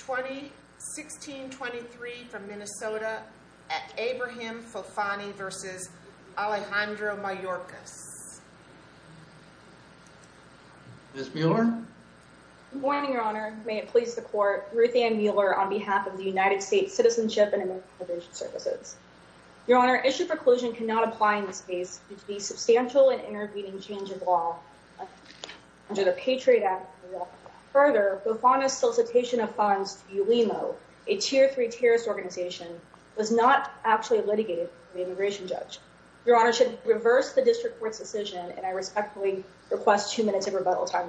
2016-23 from Minnesota at Abrahim Fofana v. Alejandro Mayorkas Ms. Mueller Good morning, Your Honor. May it please the Court, Ruth Ann Mueller on behalf of the United States Citizenship and Immigration Services. Your Honor, issue preclusion cannot apply in this case due to the substantial and intervening change of law under the Patriot Act. Further, Fofana's solicitation of funds to Ulimo, a Tier 3 terrorist organization, was not actually litigated by the immigration judge. Your Honor, I should reverse the District Court's decision, and I respectfully request two minutes of rebuttal time.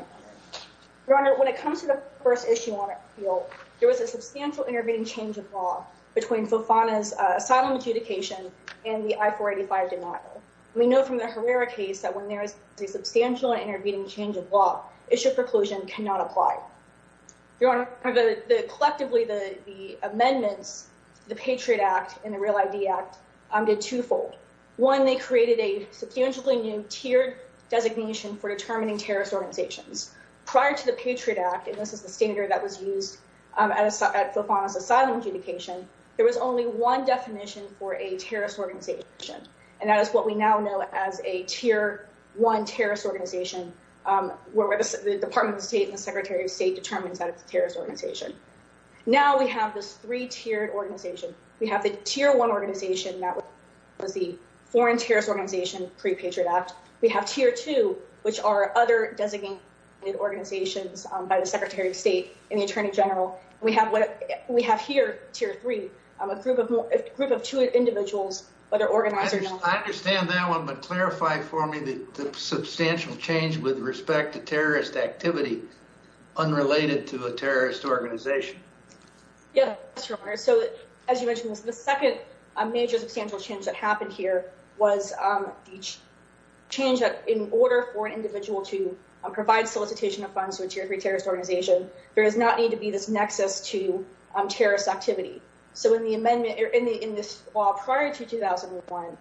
Your Honor, when it comes to the first issue on appeal, there was a substantial intervening change of law between Fofana's asylum adjudication and the I-485 denial. We know from the Herrera case that when there is a substantial and intervening change of law, issue preclusion cannot apply. Your Honor, collectively, the amendments to the Patriot Act and the Real ID Act did twofold. One, they created a substantially new tiered designation for determining terrorist organizations. Prior to the Patriot Act, and this is the standard that was used at Fofana's asylum adjudication, there was only one definition for a terrorist organization. And that is what we now know as a Tier 1 terrorist organization, where the Department of State and the Secretary of State determines that it's a terrorist organization. Now we have this three-tiered organization. We have the Tier 1 organization that was the foreign terrorist organization pre-Patriot Act. We have Tier 2, which are other designated organizations by the Secretary of State and the Attorney General. We have here Tier 3, a group of two individuals, but they're organized. I understand that one, but clarify for me the substantial change with respect to terrorist activity unrelated to a terrorist organization. Yes, Your Honor. So as you mentioned, the second major substantial change that happened here was the change that in order for an individual to provide solicitation of funds to a Tier 3 terrorist organization, there does not need to be this nexus to terrorist activity. So in this law prior to 2001,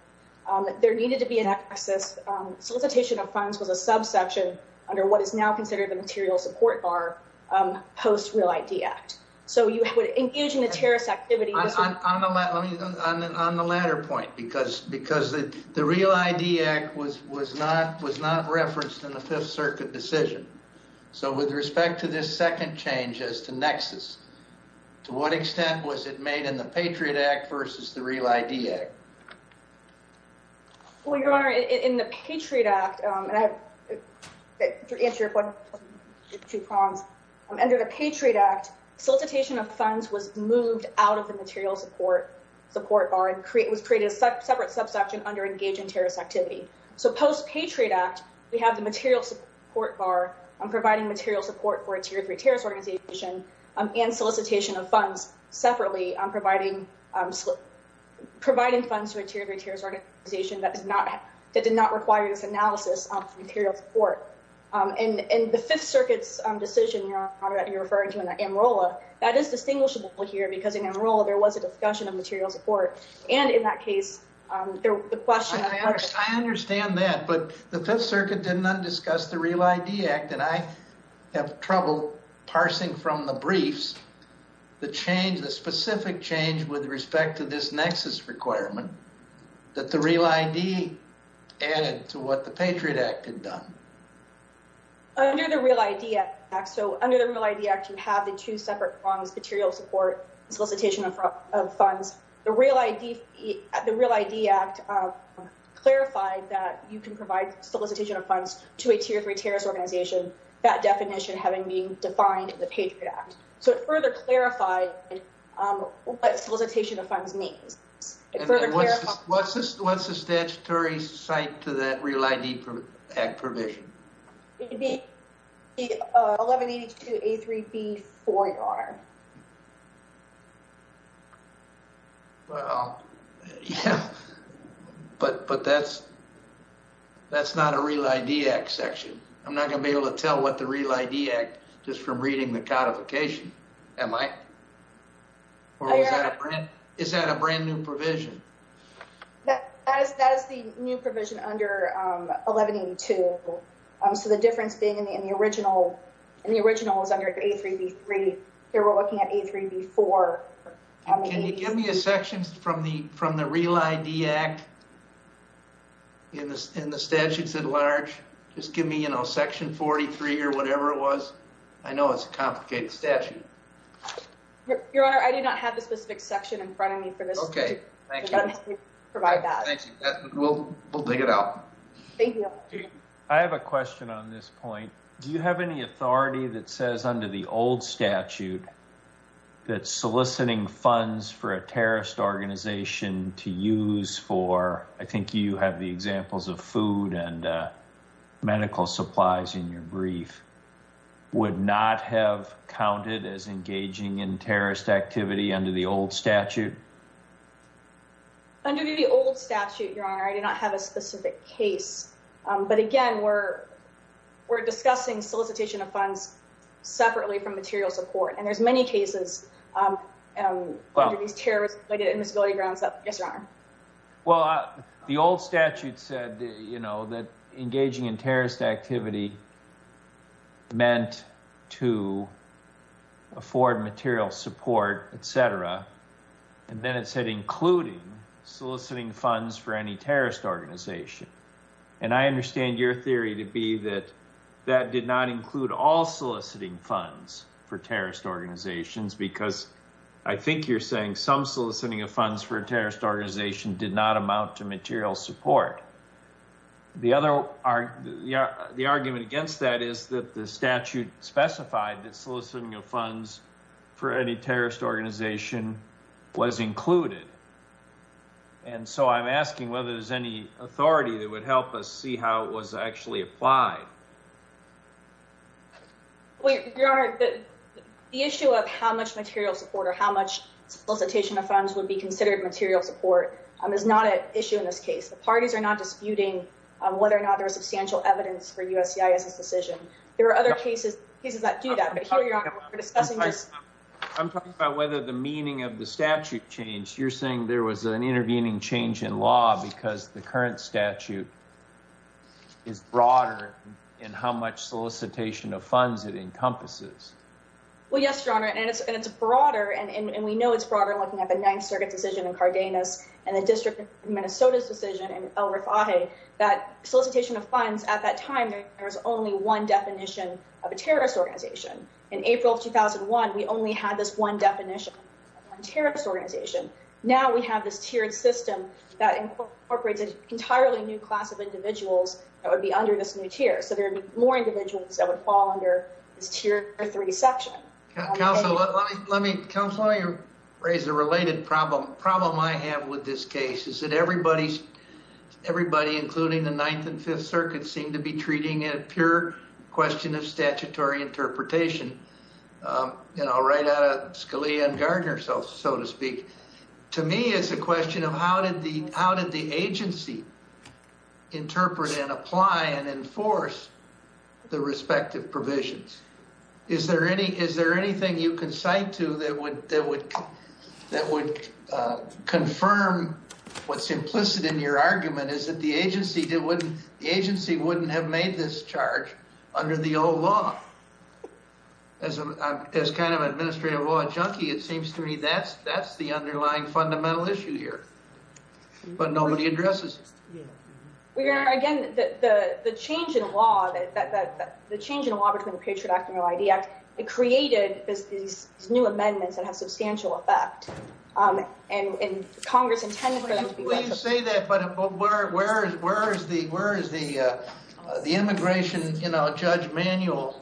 there needed to be a nexus. Solicitation of funds was a subsection under what is now considered the material support bar post-Real ID Act. So engaging the terrorist activity— On the latter point, because the Real ID Act was not referenced in the Fifth Circuit decision. So with respect to this second change as to nexus, to what extent was it made in the Patriot Act versus the Real ID Act? Well, Your Honor, in the Patriot Act—to answer your question, I have two problems. Under the Patriot Act, solicitation of funds was moved out of the material support bar and was created a separate subsection under engaging terrorist activity. So post-Patriot Act, we have the material support bar providing material support for a Tier 3 terrorist organization and solicitation of funds separately providing funds to a Tier 3 terrorist organization that did not require this analysis of material support. In the Fifth Circuit's decision, Your Honor, that you're referring to in the AMROLA, that is distinguishable here because in AMROLA there was a discussion of material support. And in that case, the question— I understand that, but the Fifth Circuit did not discuss the Real ID Act, and I have trouble parsing from the briefs the change, the specific change with respect to this nexus requirement that the Real ID added to what the Patriot Act had done. Under the Real ID Act, so under the Real ID Act, you have the two separate prongs, material support and solicitation of funds. The Real ID Act clarified that you can provide solicitation of funds to a Tier 3 terrorist organization, that definition having been defined in the Patriot Act. So it further clarified what solicitation of funds means. And what's the statutory site to that Real ID Act provision? It would be 1182A3B4, Your Honor. Well, yeah, but that's not a Real ID Act section. I'm not going to be able to tell what the Real ID Act just from reading the codification, am I? Or is that a brand new provision? That is the new provision under 1182. So the difference being in the original is under A3B3. Here we're looking at A3B4. Can you give me a section from the Real ID Act in the statutes at large? Just give me, you know, Section 43 or whatever it was. I know it's a complicated statute. Your Honor, I do not have the specific section in front of me for this. Thank you. We'll dig it out. Thank you, Your Honor. I have a question on this point. Do you have any authority that says under the old statute that soliciting funds for a terrorist organization to use for, I think you have the examples of food and medical supplies in your brief, would not have counted as engaging in terrorist activity under the old statute? Under the old statute, Your Honor, I do not have a specific case. But again, we're discussing solicitation of funds separately from material support. And there's many cases under these terrorist grounds. Yes, Your Honor. Well, the old statute said, you know, that engaging in terrorist activity meant to afford material support, etc. And then it said including soliciting funds for any terrorist organization. And I understand your theory to be that that did not include all soliciting funds for terrorist organizations because I think you're saying some soliciting of funds for a terrorist organization did not amount to material support. The other argument against that is that the statute specified that soliciting of funds for any terrorist organization was included. And so I'm asking whether there's any authority that would help us see how it was actually applied. Your Honor, the issue of how much material support or how much solicitation of funds would be considered material support is not an issue in this case. The parties are not disputing whether or not there is substantial evidence for USCIS's decision. There are other cases that do that. I'm talking about whether the meaning of the statute changed. You're saying there was an intervening change in law because the current statute is broader in how much solicitation of funds it encompasses. Well, yes, Your Honor. And we know it's broader looking at the Ninth Circuit decision in Cardenas and the District of Minnesota's decision in El Rifaje that solicitation of funds at that time there was only one definition of a terrorist organization. In April of 2001, we only had this one definition of a terrorist organization. Now we have this tiered system that incorporates an entirely new class of individuals that would be under this new tier. So there would be more individuals that would fall under this tier three section. Counselor, let me raise a related problem. The problem I have with this case is that everybody, including the Ninth and Fifth Circuits, seem to be treating it as a pure question of statutory interpretation. You know, right out of Scalia and Gardner, so to speak. To me, it's a question of how did the agency interpret and apply and enforce the respective provisions? Is there anything you can cite to that would confirm what's implicit in your argument is that the agency wouldn't have made this charge under the old law? As kind of an administrative law junkie, it seems to me that's the underlying fundamental issue here. But nobody addresses it. Again, the change in law between the Patriot Act and the ID Act, it created these new amendments that have substantial effect. And Congress intended for them to be— I won't say that, but where is the immigration judge manual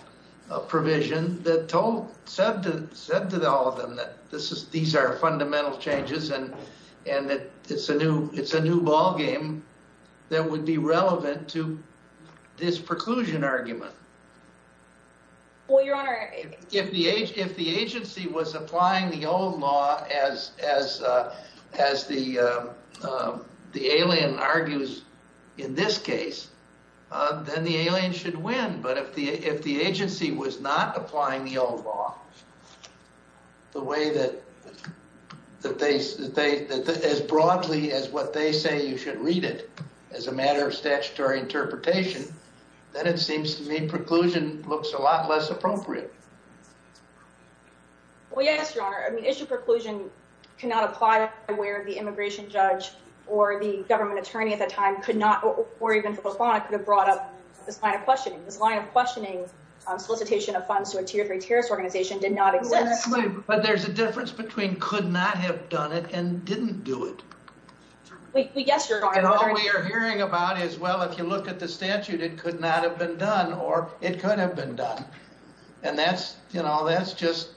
provision that said to all of them that these are fundamental changes and that it's a new ballgame that would be relevant to this preclusion argument? Well, Your Honor— If the agency was applying the old law as the alien argues in this case, then the alien should win. But if the agency was not applying the old law as broadly as what they say you should read it as a matter of statutory interpretation, then it seems to me preclusion looks a lot less appropriate. Well, yes, Your Honor. Issue preclusion cannot apply where the immigration judge or the government attorney at the time could not, or even the law could have brought up this line of questioning. This line of questioning solicitation of funds to a Tier 3 terrorist organization did not exist. But there's a difference between could not have done it and didn't do it. Yes, Your Honor. And all we are hearing about is, well, if you look at the statute, it could not have been done or it could have been done. And that's, you know, that's just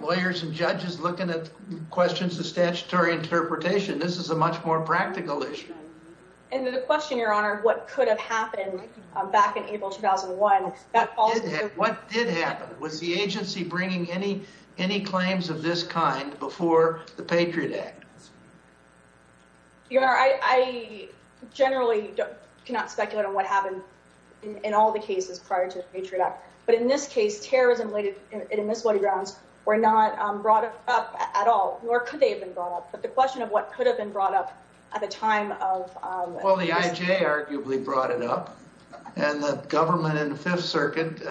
lawyers and judges looking at questions of statutory interpretation. This is a much more practical issue. And the question, Your Honor, what could have happened back in April 2001? What did happen? Was the agency bringing any claims of this kind before the Patriot Act? Your Honor, I generally cannot speculate on what happened in all the cases prior to the Patriot Act. But in this case, terrorism-related and emission-related grounds were not brought up at all, nor could they have been brought up. But the question of what could have been brought up at the time of... Well, the IJ arguably brought it up, and the government in the Fifth Circuit,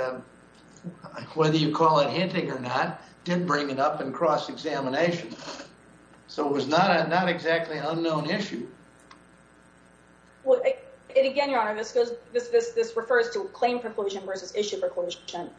whether you call it hinting or not, did bring it up in cross-examination. So it was not exactly an unknown issue. Again, Your Honor, this refers to claim preclusion versus issue preclusion.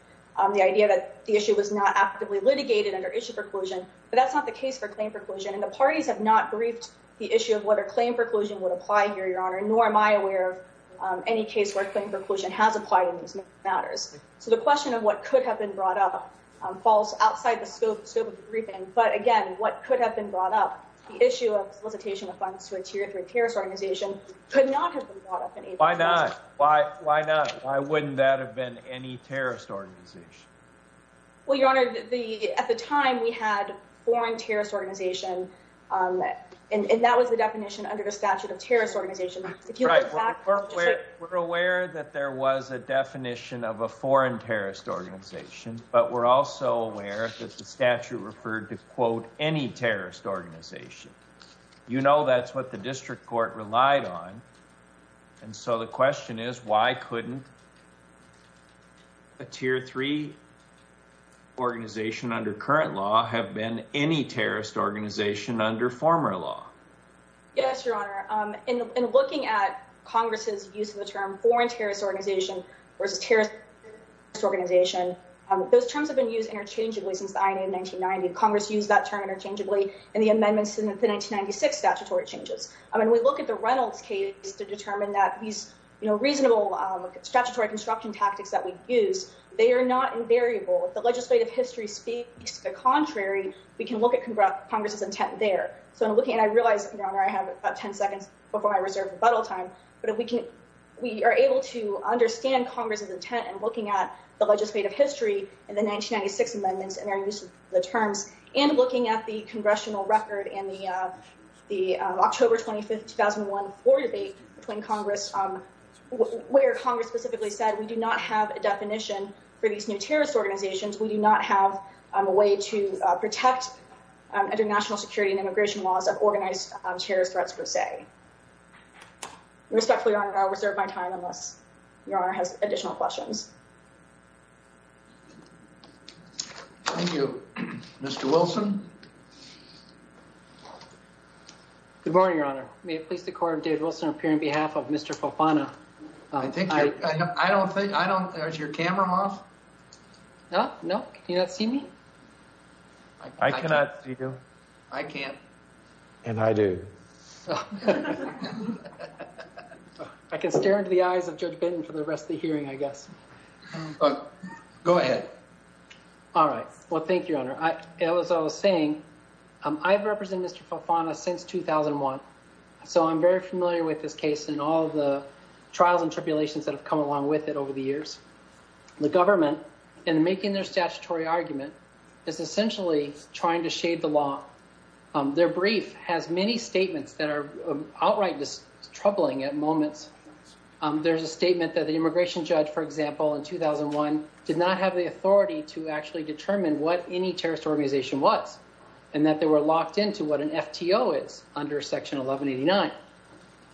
The idea that the issue was not actively litigated under issue preclusion. But that's not the case for claim preclusion. And the parties have not briefed the issue of whether claim preclusion would apply here, Your Honor, nor am I aware of any case where claim preclusion has applied in these matters. So the question of what could have been brought up falls outside the scope of the briefing. But again, what could have been brought up, the issue of solicitation of funds to a Tier 3 terrorist organization, could not have been brought up. Why not? Why not? Why wouldn't that have been any terrorist organization? Well, Your Honor, at the time we had foreign terrorist organization, and that was the definition under the statute of terrorist organization. We're aware that there was a definition of a foreign terrorist organization. But we're also aware that the statute referred to, quote, any terrorist organization. You know, that's what the district court relied on. And so the question is, why couldn't a Tier 3 organization under current law have been any terrorist organization under former law? Yes, Your Honor. In looking at Congress's use of the term foreign terrorist organization versus terrorist organization, those terms have been used interchangeably since the INA in 1990. Congress used that term interchangeably in the amendments in the 1996 statutory changes. I mean, we look at the Reynolds case to determine that these, you know, reasonable statutory construction tactics that we use, they are not invariable. If the legislative history speaks the contrary, we can look at Congress's intent there. And I realize, Your Honor, I have about 10 seconds before I reserve rebuttal time, but we are able to understand Congress's intent in looking at the legislative history in the 1996 amendments and their use of the terms, and looking at the congressional record in the October 25th, 2001 floor debate between Congress, where Congress specifically said we do not have a definition for these new terrorist organizations. We do not have a way to protect international security and immigration laws of organized terrorist threats, per se. Respectfully, Your Honor, I'll reserve my time unless Your Honor has additional questions. Thank you. Mr. Wilson? Good morning, Your Honor. May it please the Court, I'm David Wilson. I'm here on behalf of Mr. Fofana. I don't think, I don't, is your camera off? No, no. Can you not see me? I cannot see you. I can't. And I do. I can stare into the eyes of Judge Benton for the rest of the hearing, I guess. All right. Well, thank you, Your Honor. As I was saying, I've represented Mr. Fofana since 2001. So I'm very familiar with this case and all the trials and tribulations that have come along with it over the years. The government, in making their statutory argument, is essentially trying to shade the law. Their brief has many statements that are outright troubling at moments. There's a statement that the immigration judge, for example, in 2001, did not have the authority to actually determine what any terrorist organization was. And that they were locked into what an FTO is under Section 1189.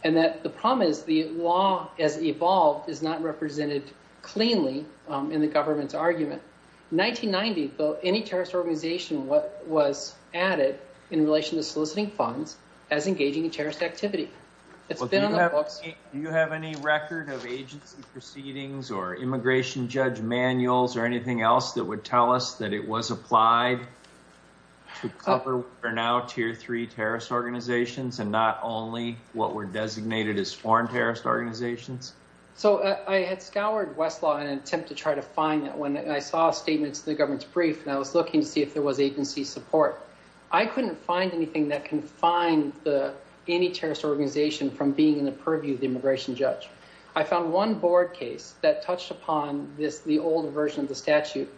And that the problem is the law as evolved is not represented cleanly in the government's argument. 1990, any terrorist organization was added in relation to soliciting funds as engaging in terrorist activity. Do you have any record of agency proceedings or immigration judge manuals or anything else that would tell us that it was applied to cover what are now Tier 3 terrorist organizations? And not only what were designated as foreign terrorist organizations? So I had scoured Westlaw in an attempt to try to find that one. And I saw a statement to the government's brief, and I was looking to see if there was agency support. I couldn't find anything that confined any terrorist organization from being in the purview of the immigration judge. I found one board case that touched upon the older version of the statute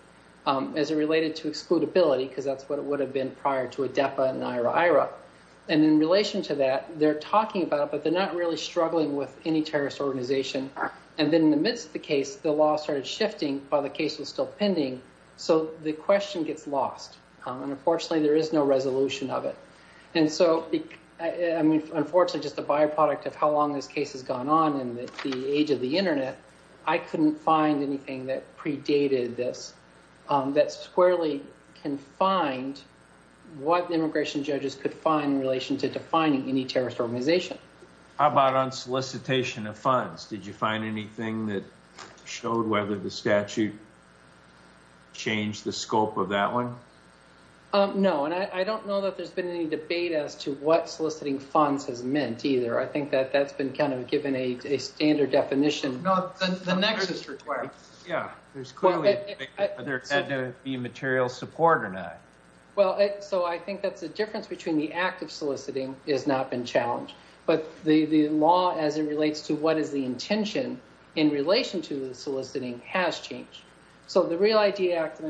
as it related to excludability, because that's what it would have been prior to ADEPA and IRA. And in relation to that, they're talking about it, but they're not really struggling with any terrorist organization. And then in the midst of the case, the law started shifting while the case was still pending. So the question gets lost. And unfortunately, there is no resolution of it. And so, I mean, unfortunately, just the byproduct of how long this case has gone on and the age of the Internet, I couldn't find anything that predated this, that squarely confined what immigration judges could find in relation to defining any terrorist organization. How about on solicitation of funds? Did you find anything that showed whether the statute changed the scope of that one? No. And I don't know that there's been any debate as to what soliciting funds has meant either. I think that that's been kind of given a standard definition. No, the next is required. Yeah. There's clearly been material support or not. Well, so I think that's the difference between the act of soliciting has not been challenged. But the law, as it relates to what is the intention in relation to the soliciting, has changed. So the Real ID Act,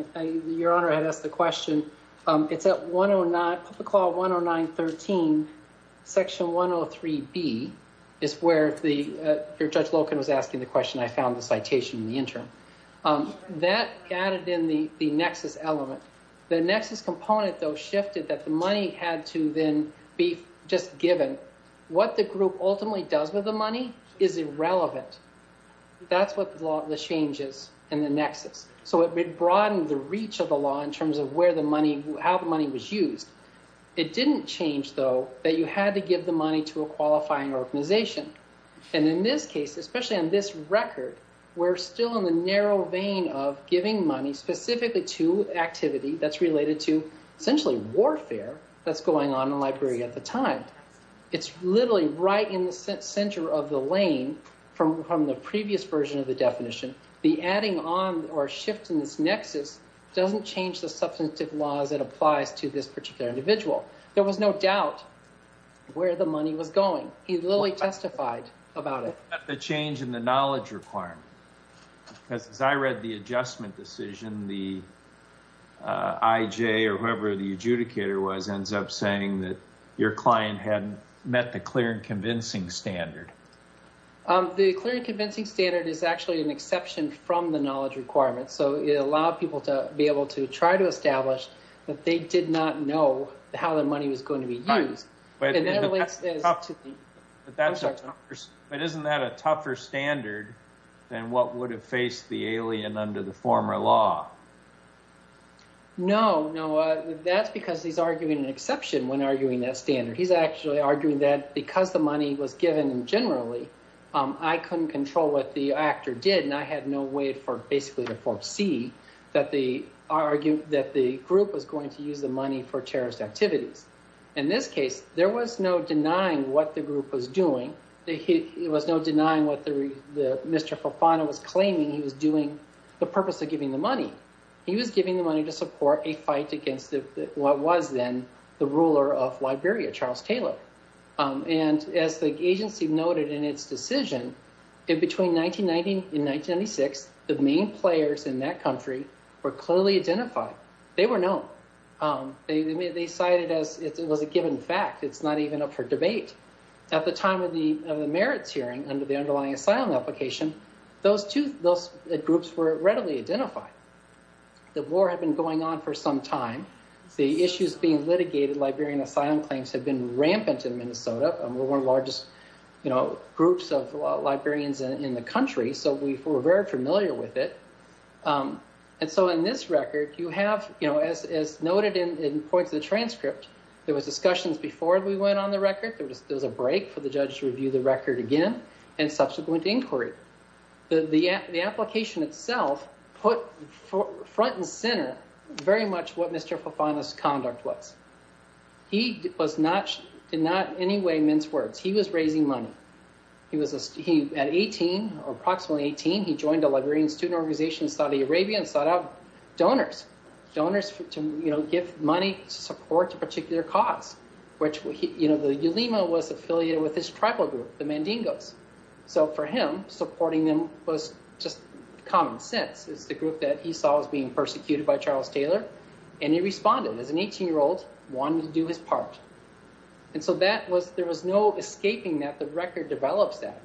your Honor, had asked the question. It's at 109, Public Law 109.13, Section 103B, is where the Judge Loken was asking the question. I found the citation in the interim. That added in the nexus element. The nexus component, though, shifted that the money had to then be just given. What the group ultimately does with the money is irrelevant. That's what the law changes in the nexus. So it broadened the reach of the law in terms of where the money, how the money was used. It didn't change, though, that you had to give the money to a qualifying organization. And in this case, especially on this record, we're still in the narrow vein of giving money specifically to activity that's related to essentially warfare that's going on in Liberia at the time. It's literally right in the center of the lane from the previous version of the definition. The adding on or shift in this nexus doesn't change the substantive laws that applies to this particular individual. There was no doubt where the money was going. He literally testified about it. The change in the knowledge requirement. Because as I read the adjustment decision, the IJ or whoever the adjudicator was ends up saying that your client had met the clear and convincing standard. The clear and convincing standard is actually an exception from the knowledge requirement. So it allowed people to be able to try to establish that they did not know how the money was going to be used. But isn't that a tougher standard than what would have faced the alien under the former law? No, no. That's because he's arguing an exception when arguing that standard. He's actually arguing that because the money was given generally, I couldn't control what the actor did. And I had no way for basically to foresee that the group was going to use the money for terrorist activities. In this case, there was no denying what the group was doing. There was no denying what Mr. Fofana was claiming he was doing, the purpose of giving the money. He was giving the money to support a fight against what was then the ruler of Liberia, Charles Taylor. And as the agency noted in its decision, between 1990 and 1996, the main players in that country were clearly identified. They were known. They cited as it was a given fact. It's not even up for debate. At the time of the merits hearing under the underlying asylum application, those two groups were readily identified. The war had been going on for some time. The issues being litigated, Liberian asylum claims, had been rampant in Minnesota. We're one of the largest groups of Liberians in the country, so we were very familiar with it. And so in this record, you have, as noted in points of the transcript, there was discussions before we went on the record. There was a break for the judge to review the record again, and subsequent inquiry. The application itself put front and center very much what Mr. Fofana's conduct was. He did not in any way mince words. He was raising money. At 18, or approximately 18, he joined a Liberian student organization in Saudi Arabia and sought out donors. Donors to give money to support a particular cause, which the Ulema was affiliated with his tribal group, the Mandingos. So for him, supporting them was just common sense. It's the group that he saw as being persecuted by Charles Taylor. And he responded as an 18-year-old wanting to do his part. And so there was no escaping that. The record develops that.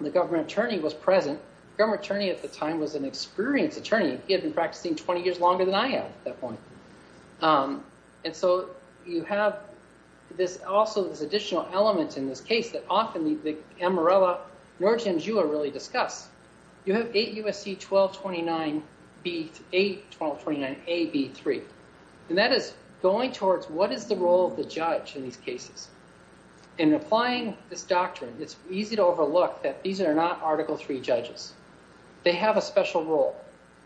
The government attorney was present. The government attorney at the time was an experienced attorney. He had been practicing 20 years longer than I have at that point. And so you have also this additional element in this case that often the Amarillo, Norja, and Jua really discuss. You have 8 U.S.C. 1229-A-B-3. And that is going towards what is the role of the judge in these cases. In applying this doctrine, it's easy to overlook that these are not Article III judges. They have a special role.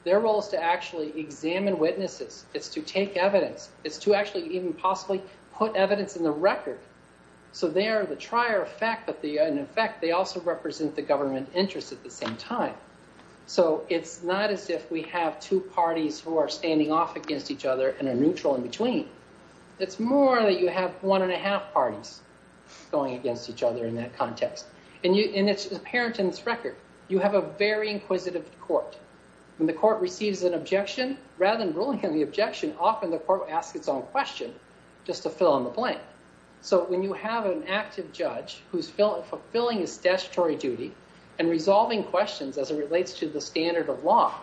Their role is to actually examine witnesses. It's to take evidence. It's to actually even possibly put evidence in the record. So they are the trier effect, but in effect, they also represent the government interest at the same time. So it's not as if we have two parties who are standing off against each other and are neutral in between. It's more that you have one-and-a-half parties going against each other in that context. And it's apparent in this record. You have a very inquisitive court. When the court receives an objection, rather than ruling on the objection, often the court will ask its own question just to fill in the blank. So when you have an active judge who's fulfilling his statutory duty and resolving questions as it relates to the standard of law,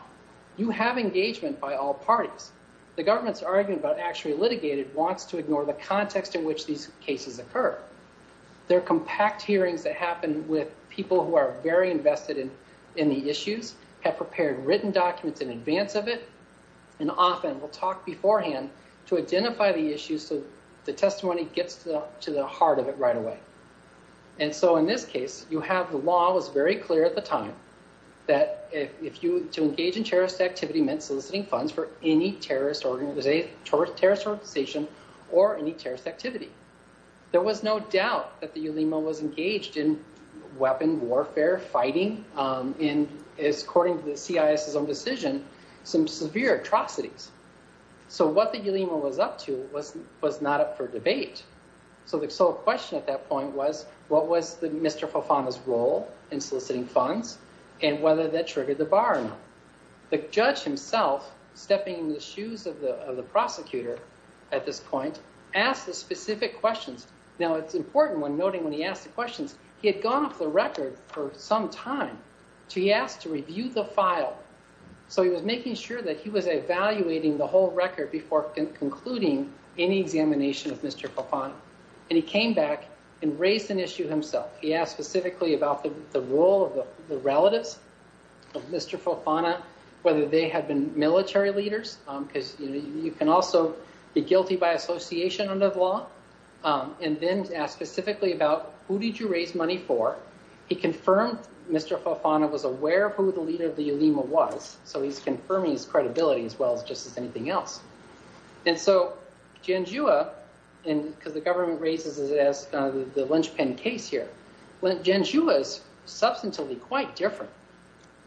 you have engagement by all parties. The government's argument about actually litigating wants to ignore the context in which these cases occur. There are compact hearings that happen with people who are very invested in the issues, have prepared written documents in advance of it, and often will talk beforehand to identify the issues so the testimony gets to the heart of it right away. And so in this case, the law was very clear at the time that to engage in terrorist activity meant soliciting funds for any terrorist organization or any terrorist activity. There was no doubt that the ulema was engaged in weapon warfare, fighting, and, according to the CIS's own decision, some severe atrocities. So what the ulema was up to was not up for debate. So the sole question at that point was what was Mr. Fofana's role in soliciting funds and whether that triggered the bar or not. The judge himself, stepping in the shoes of the prosecutor at this point, asked the specific questions. Now, it's important when noting when he asked the questions, he had gone off the record for some time, so he asked to review the file. So he was making sure that he was evaluating the whole record before concluding any examination of Mr. Fofana. And he came back and raised an issue himself. He asked specifically about the role of the relatives of Mr. Fofana, whether they had been military leaders, because you can also be guilty by association under the law, and then asked specifically about who did you raise money for. He confirmed Mr. Fofana was aware of who the leader of the ulema was, so he's confirming his credibility as well as just as anything else. And so Janjua, because the government raises it as the linchpin case here, Janjua is substantially quite different.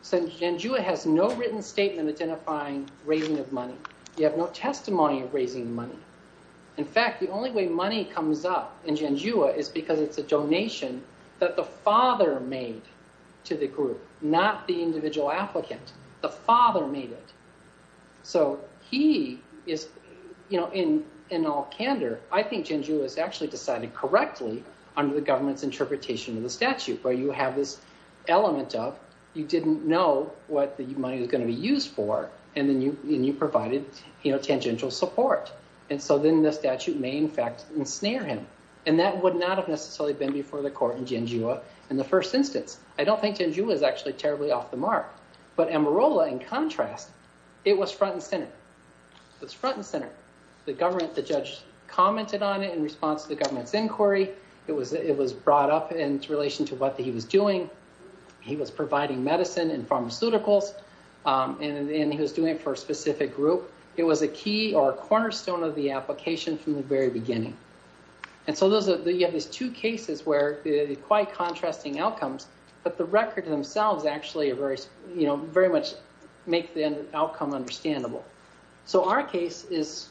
So Janjua has no written statement identifying raising of money. You have no testimony of raising money. In fact, the only way money comes up in Janjua is because it's a donation that the father made to the group, not the individual applicant. The father made it. So he is, in all candor, I think Janjua has actually decided correctly under the government's interpretation of the statute, where you have this element of you didn't know what the money was going to be used for, and then you provided tangential support. And so then the statute may in fact ensnare him. And that would not have necessarily been before the court in Janjua in the first instance. I don't think Janjua is actually terribly off the mark. But Amarola, in contrast, it was front and center. It was front and center. The government, the judge commented on it in response to the government's inquiry. It was brought up in relation to what he was doing. He was providing medicine and pharmaceuticals, and he was doing it for a specific group. It was a key or a cornerstone of the application from the very beginning. And so you have these two cases where there are quite contrasting outcomes, but the record themselves actually very much make the outcome understandable. So our case is,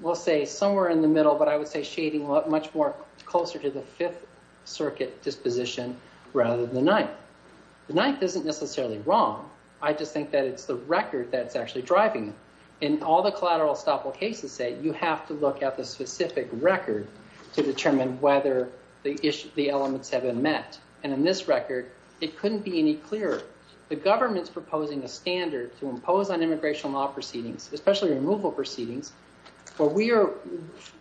we'll say, somewhere in the middle, but I would say shading much more closer to the Fifth Circuit disposition rather than the Ninth. The Ninth isn't necessarily wrong. I just think that it's the record that's actually driving it. In all the collateral estoppel cases, say, you have to look at the specific record to determine whether the elements have been met. And in this record, it couldn't be any clearer. The government's proposing a standard to impose on immigration law proceedings, especially removal proceedings, where we are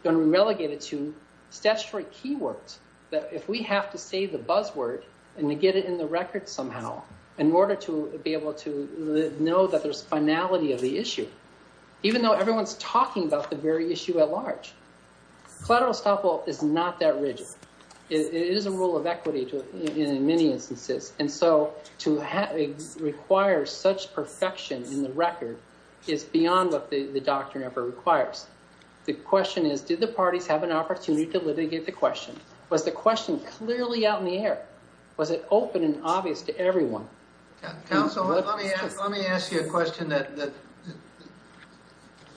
going to relegate it to statutory key words that if we have to say the buzzword and to get it in the record somehow, in order to be able to know that there's finality of the issue, even though everyone's talking about the very issue at large. Collateral estoppel is not that rigid. It is a rule of equity in many instances. And so to require such perfection in the record is beyond what the doctrine ever requires. The question is, did the parties have an opportunity to litigate the question? Was the question clearly out in the air? Was it open and obvious to everyone? Counsel, let me ask you a question that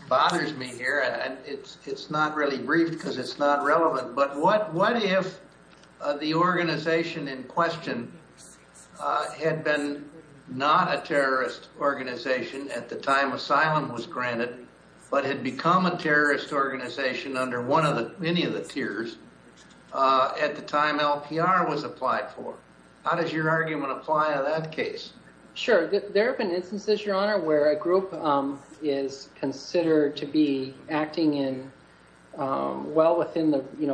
bothers me here. It's not really brief because it's not relevant. But what if the organization in question had been not a terrorist organization at the time asylum was granted, but had become a terrorist organization under any of the tiers at the time LPR was applied for? How does your argument apply in that case? Sure. There have been instances, Your Honor, where a group is considered to be acting in well within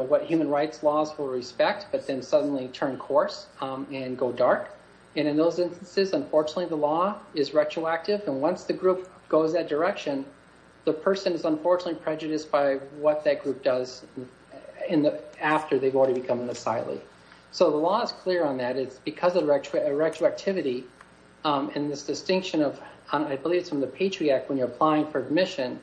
what human rights laws will respect, but then suddenly turn coarse and go dark. And in those instances, unfortunately, the law is retroactive. And once the group goes that direction, the person is unfortunately prejudiced by what that group does after they've already become an asylee. So the law is clear on that. It's because of retroactivity and this distinction of, I believe it's from the Patriot Act when you're applying for admission,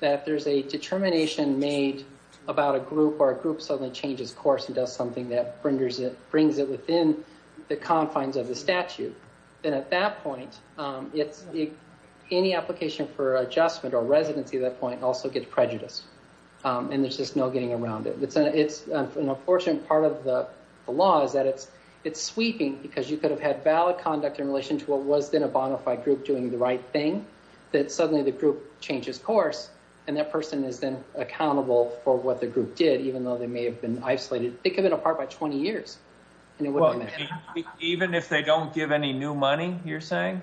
that there's a determination made about a group or a group suddenly changes course and does something that brings it within the confines of the statute. And at that point, any application for adjustment or residency at that point also gets prejudiced. And there's just no getting around it. It's an unfortunate part of the law is that it's sweeping because you could have had valid conduct in relation to what was then a bona fide group doing the right thing, that suddenly the group changes course and that person is then accountable for what the group did, even though they may have been isolated. They could have been apart by 20 years. Even if they don't give any new money, you're saying?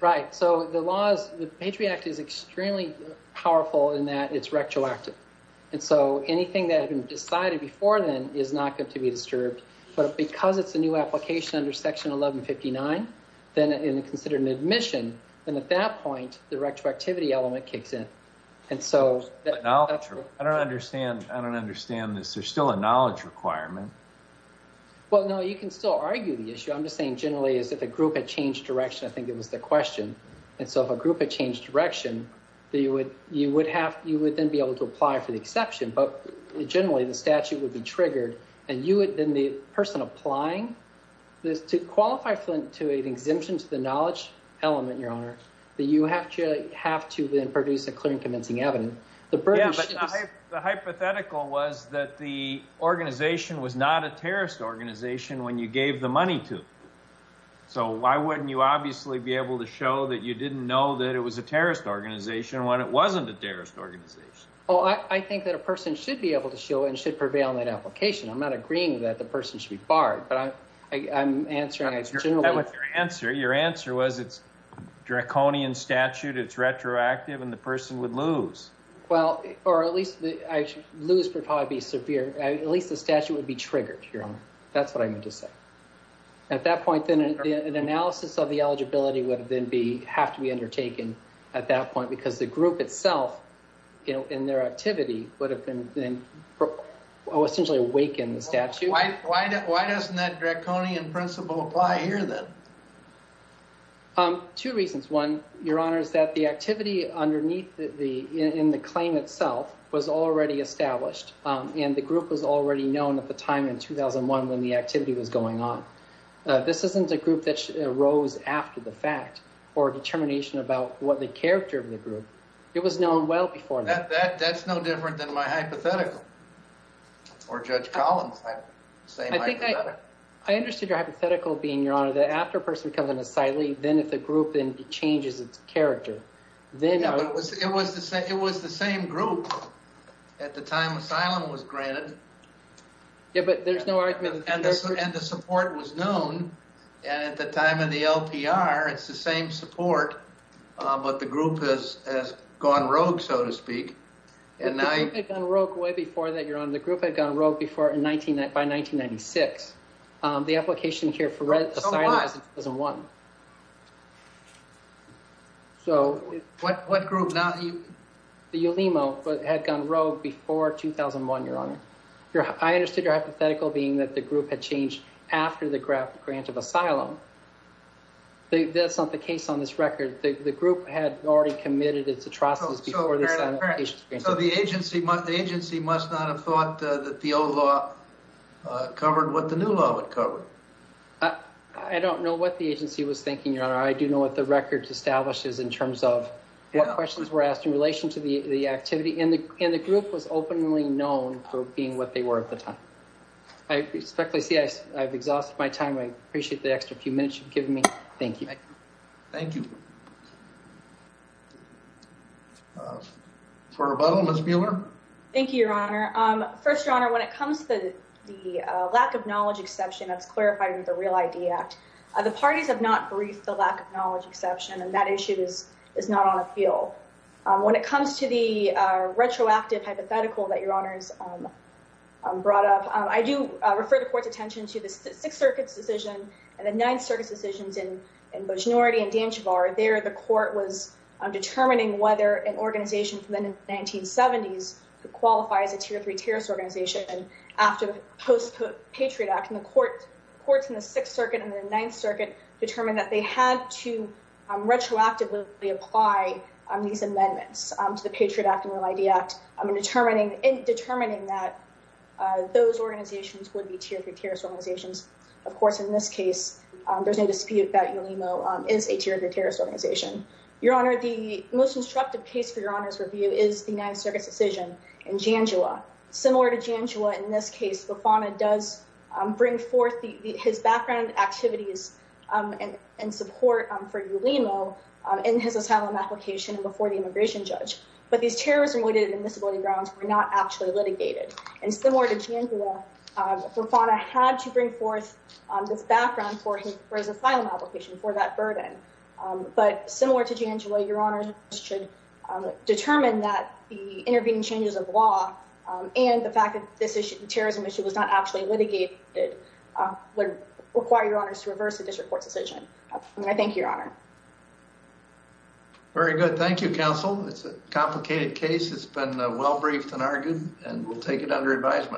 Right. So the Patriot Act is extremely powerful in that it's retroactive. And so anything that had been decided before then is not going to be disturbed. But because it's a new application under Section 1159, then it's considered an admission. And at that point, the retroactivity element kicks in. I don't understand. I don't understand this. There's still a knowledge requirement. Well, no, you can still argue the issue. I'm just saying generally is if a group had changed direction, I think it was the question. And so if a group had changed direction, you would then be able to apply for the exception. But generally, the statute would be triggered. And you would then be the person applying this to qualify Flint to an exemption to the knowledge element, Your Honor, that you have to have to then produce a clear and convincing evidence. The hypothetical was that the organization was not a terrorist organization when you gave the money to. So why wouldn't you obviously be able to show that you didn't know that it was a terrorist organization when it wasn't a terrorist organization? Oh, I think that a person should be able to show and should prevail in that application. I'm not agreeing that the person should be barred. But I'm answering. That was your answer. Your answer was it's draconian statute. It's retroactive. And the person would lose. Well, or at least lose would probably be severe. At least the statute would be triggered, Your Honor. That's what I meant to say. At that point, then an analysis of the eligibility would then be have to be undertaken at that point, because the group itself in their activity would have been essentially awaken the statute. Why? Why? Why doesn't that draconian principle apply here? Two reasons. One, Your Honor, is that the activity underneath the in the claim itself was already established. And the group was already known at the time in 2001 when the activity was going on. This isn't a group that rose after the fact or determination about what the character of the group. It was known well before that. That's no different than my hypothetical or Judge Collins. I think I understood your hypothetical being, Your Honor, that after a person becomes an asylee, then if the group changes its character, then it was the same. It was the same group at the time asylum was granted. Yeah, but there's no argument. And the support was known at the time of the LPR. It's the same support. But the group has gone rogue, so to speak. The group had gone rogue way before that, Your Honor. The group had gone rogue by 1996. The application here for asylum was in 2001. What group? The Ulimo had gone rogue before 2001, Your Honor. I understood your hypothetical being that the group had changed after the grant of asylum. That's not the case on this record. The group had already committed its atrocities before the asylum application was granted. So the agency must not have thought that the old law covered what the new law would cover. I don't know what the agency was thinking, Your Honor. I do know what the record establishes in terms of what questions were asked in relation to the activity. And the group was openly known for being what they were at the time. I respectfully say I've exhausted my time. I appreciate the extra few minutes you've given me. Thank you. Thank you. For rebuttal, Ms. Mueller. Thank you, Your Honor. First, Your Honor, when it comes to the lack of knowledge exception that's clarified in the Real ID Act, the parties have not briefed the lack of knowledge exception, and that issue is not on appeal. When it comes to the retroactive hypothetical that Your Honor has brought up, I do refer the Court's attention to the Sixth Circuit's decision and the Ninth Circuit's decisions in Bushnority and Danchavar. There the Court was determining whether an organization from the 1970s could qualify as a tier three terrorist organization. And after the post-Patriot Act, the courts in the Sixth Circuit and the Ninth Circuit determined that they had to retroactively apply these amendments to the Patriot Act and Real ID Act, determining that those organizations would be tier three terrorist organizations. Of course, in this case, there's no dispute that Ulimo is a tier three terrorist organization. Your Honor, the most instructive case for Your Honor's review is the Ninth Circuit's decision in Janjua. Similar to Janjua in this case, Bufana does bring forth his background activities and support for Ulimo in his asylum application before the immigration judge. But these terrorism-related admissibility grounds were not actually litigated. And similar to Janjua, Bufana had to bring forth this background for his asylum application for that burden. But similar to Janjua, Your Honor should determine that the intervening changes of law and the fact that this terrorism issue was not actually litigated would require Your Honors to reverse the district court's decision. And I thank you, Your Honor. Very good. Thank you, counsel. It's a complicated case. It's been well-briefed and argued, and we'll take it under advisement.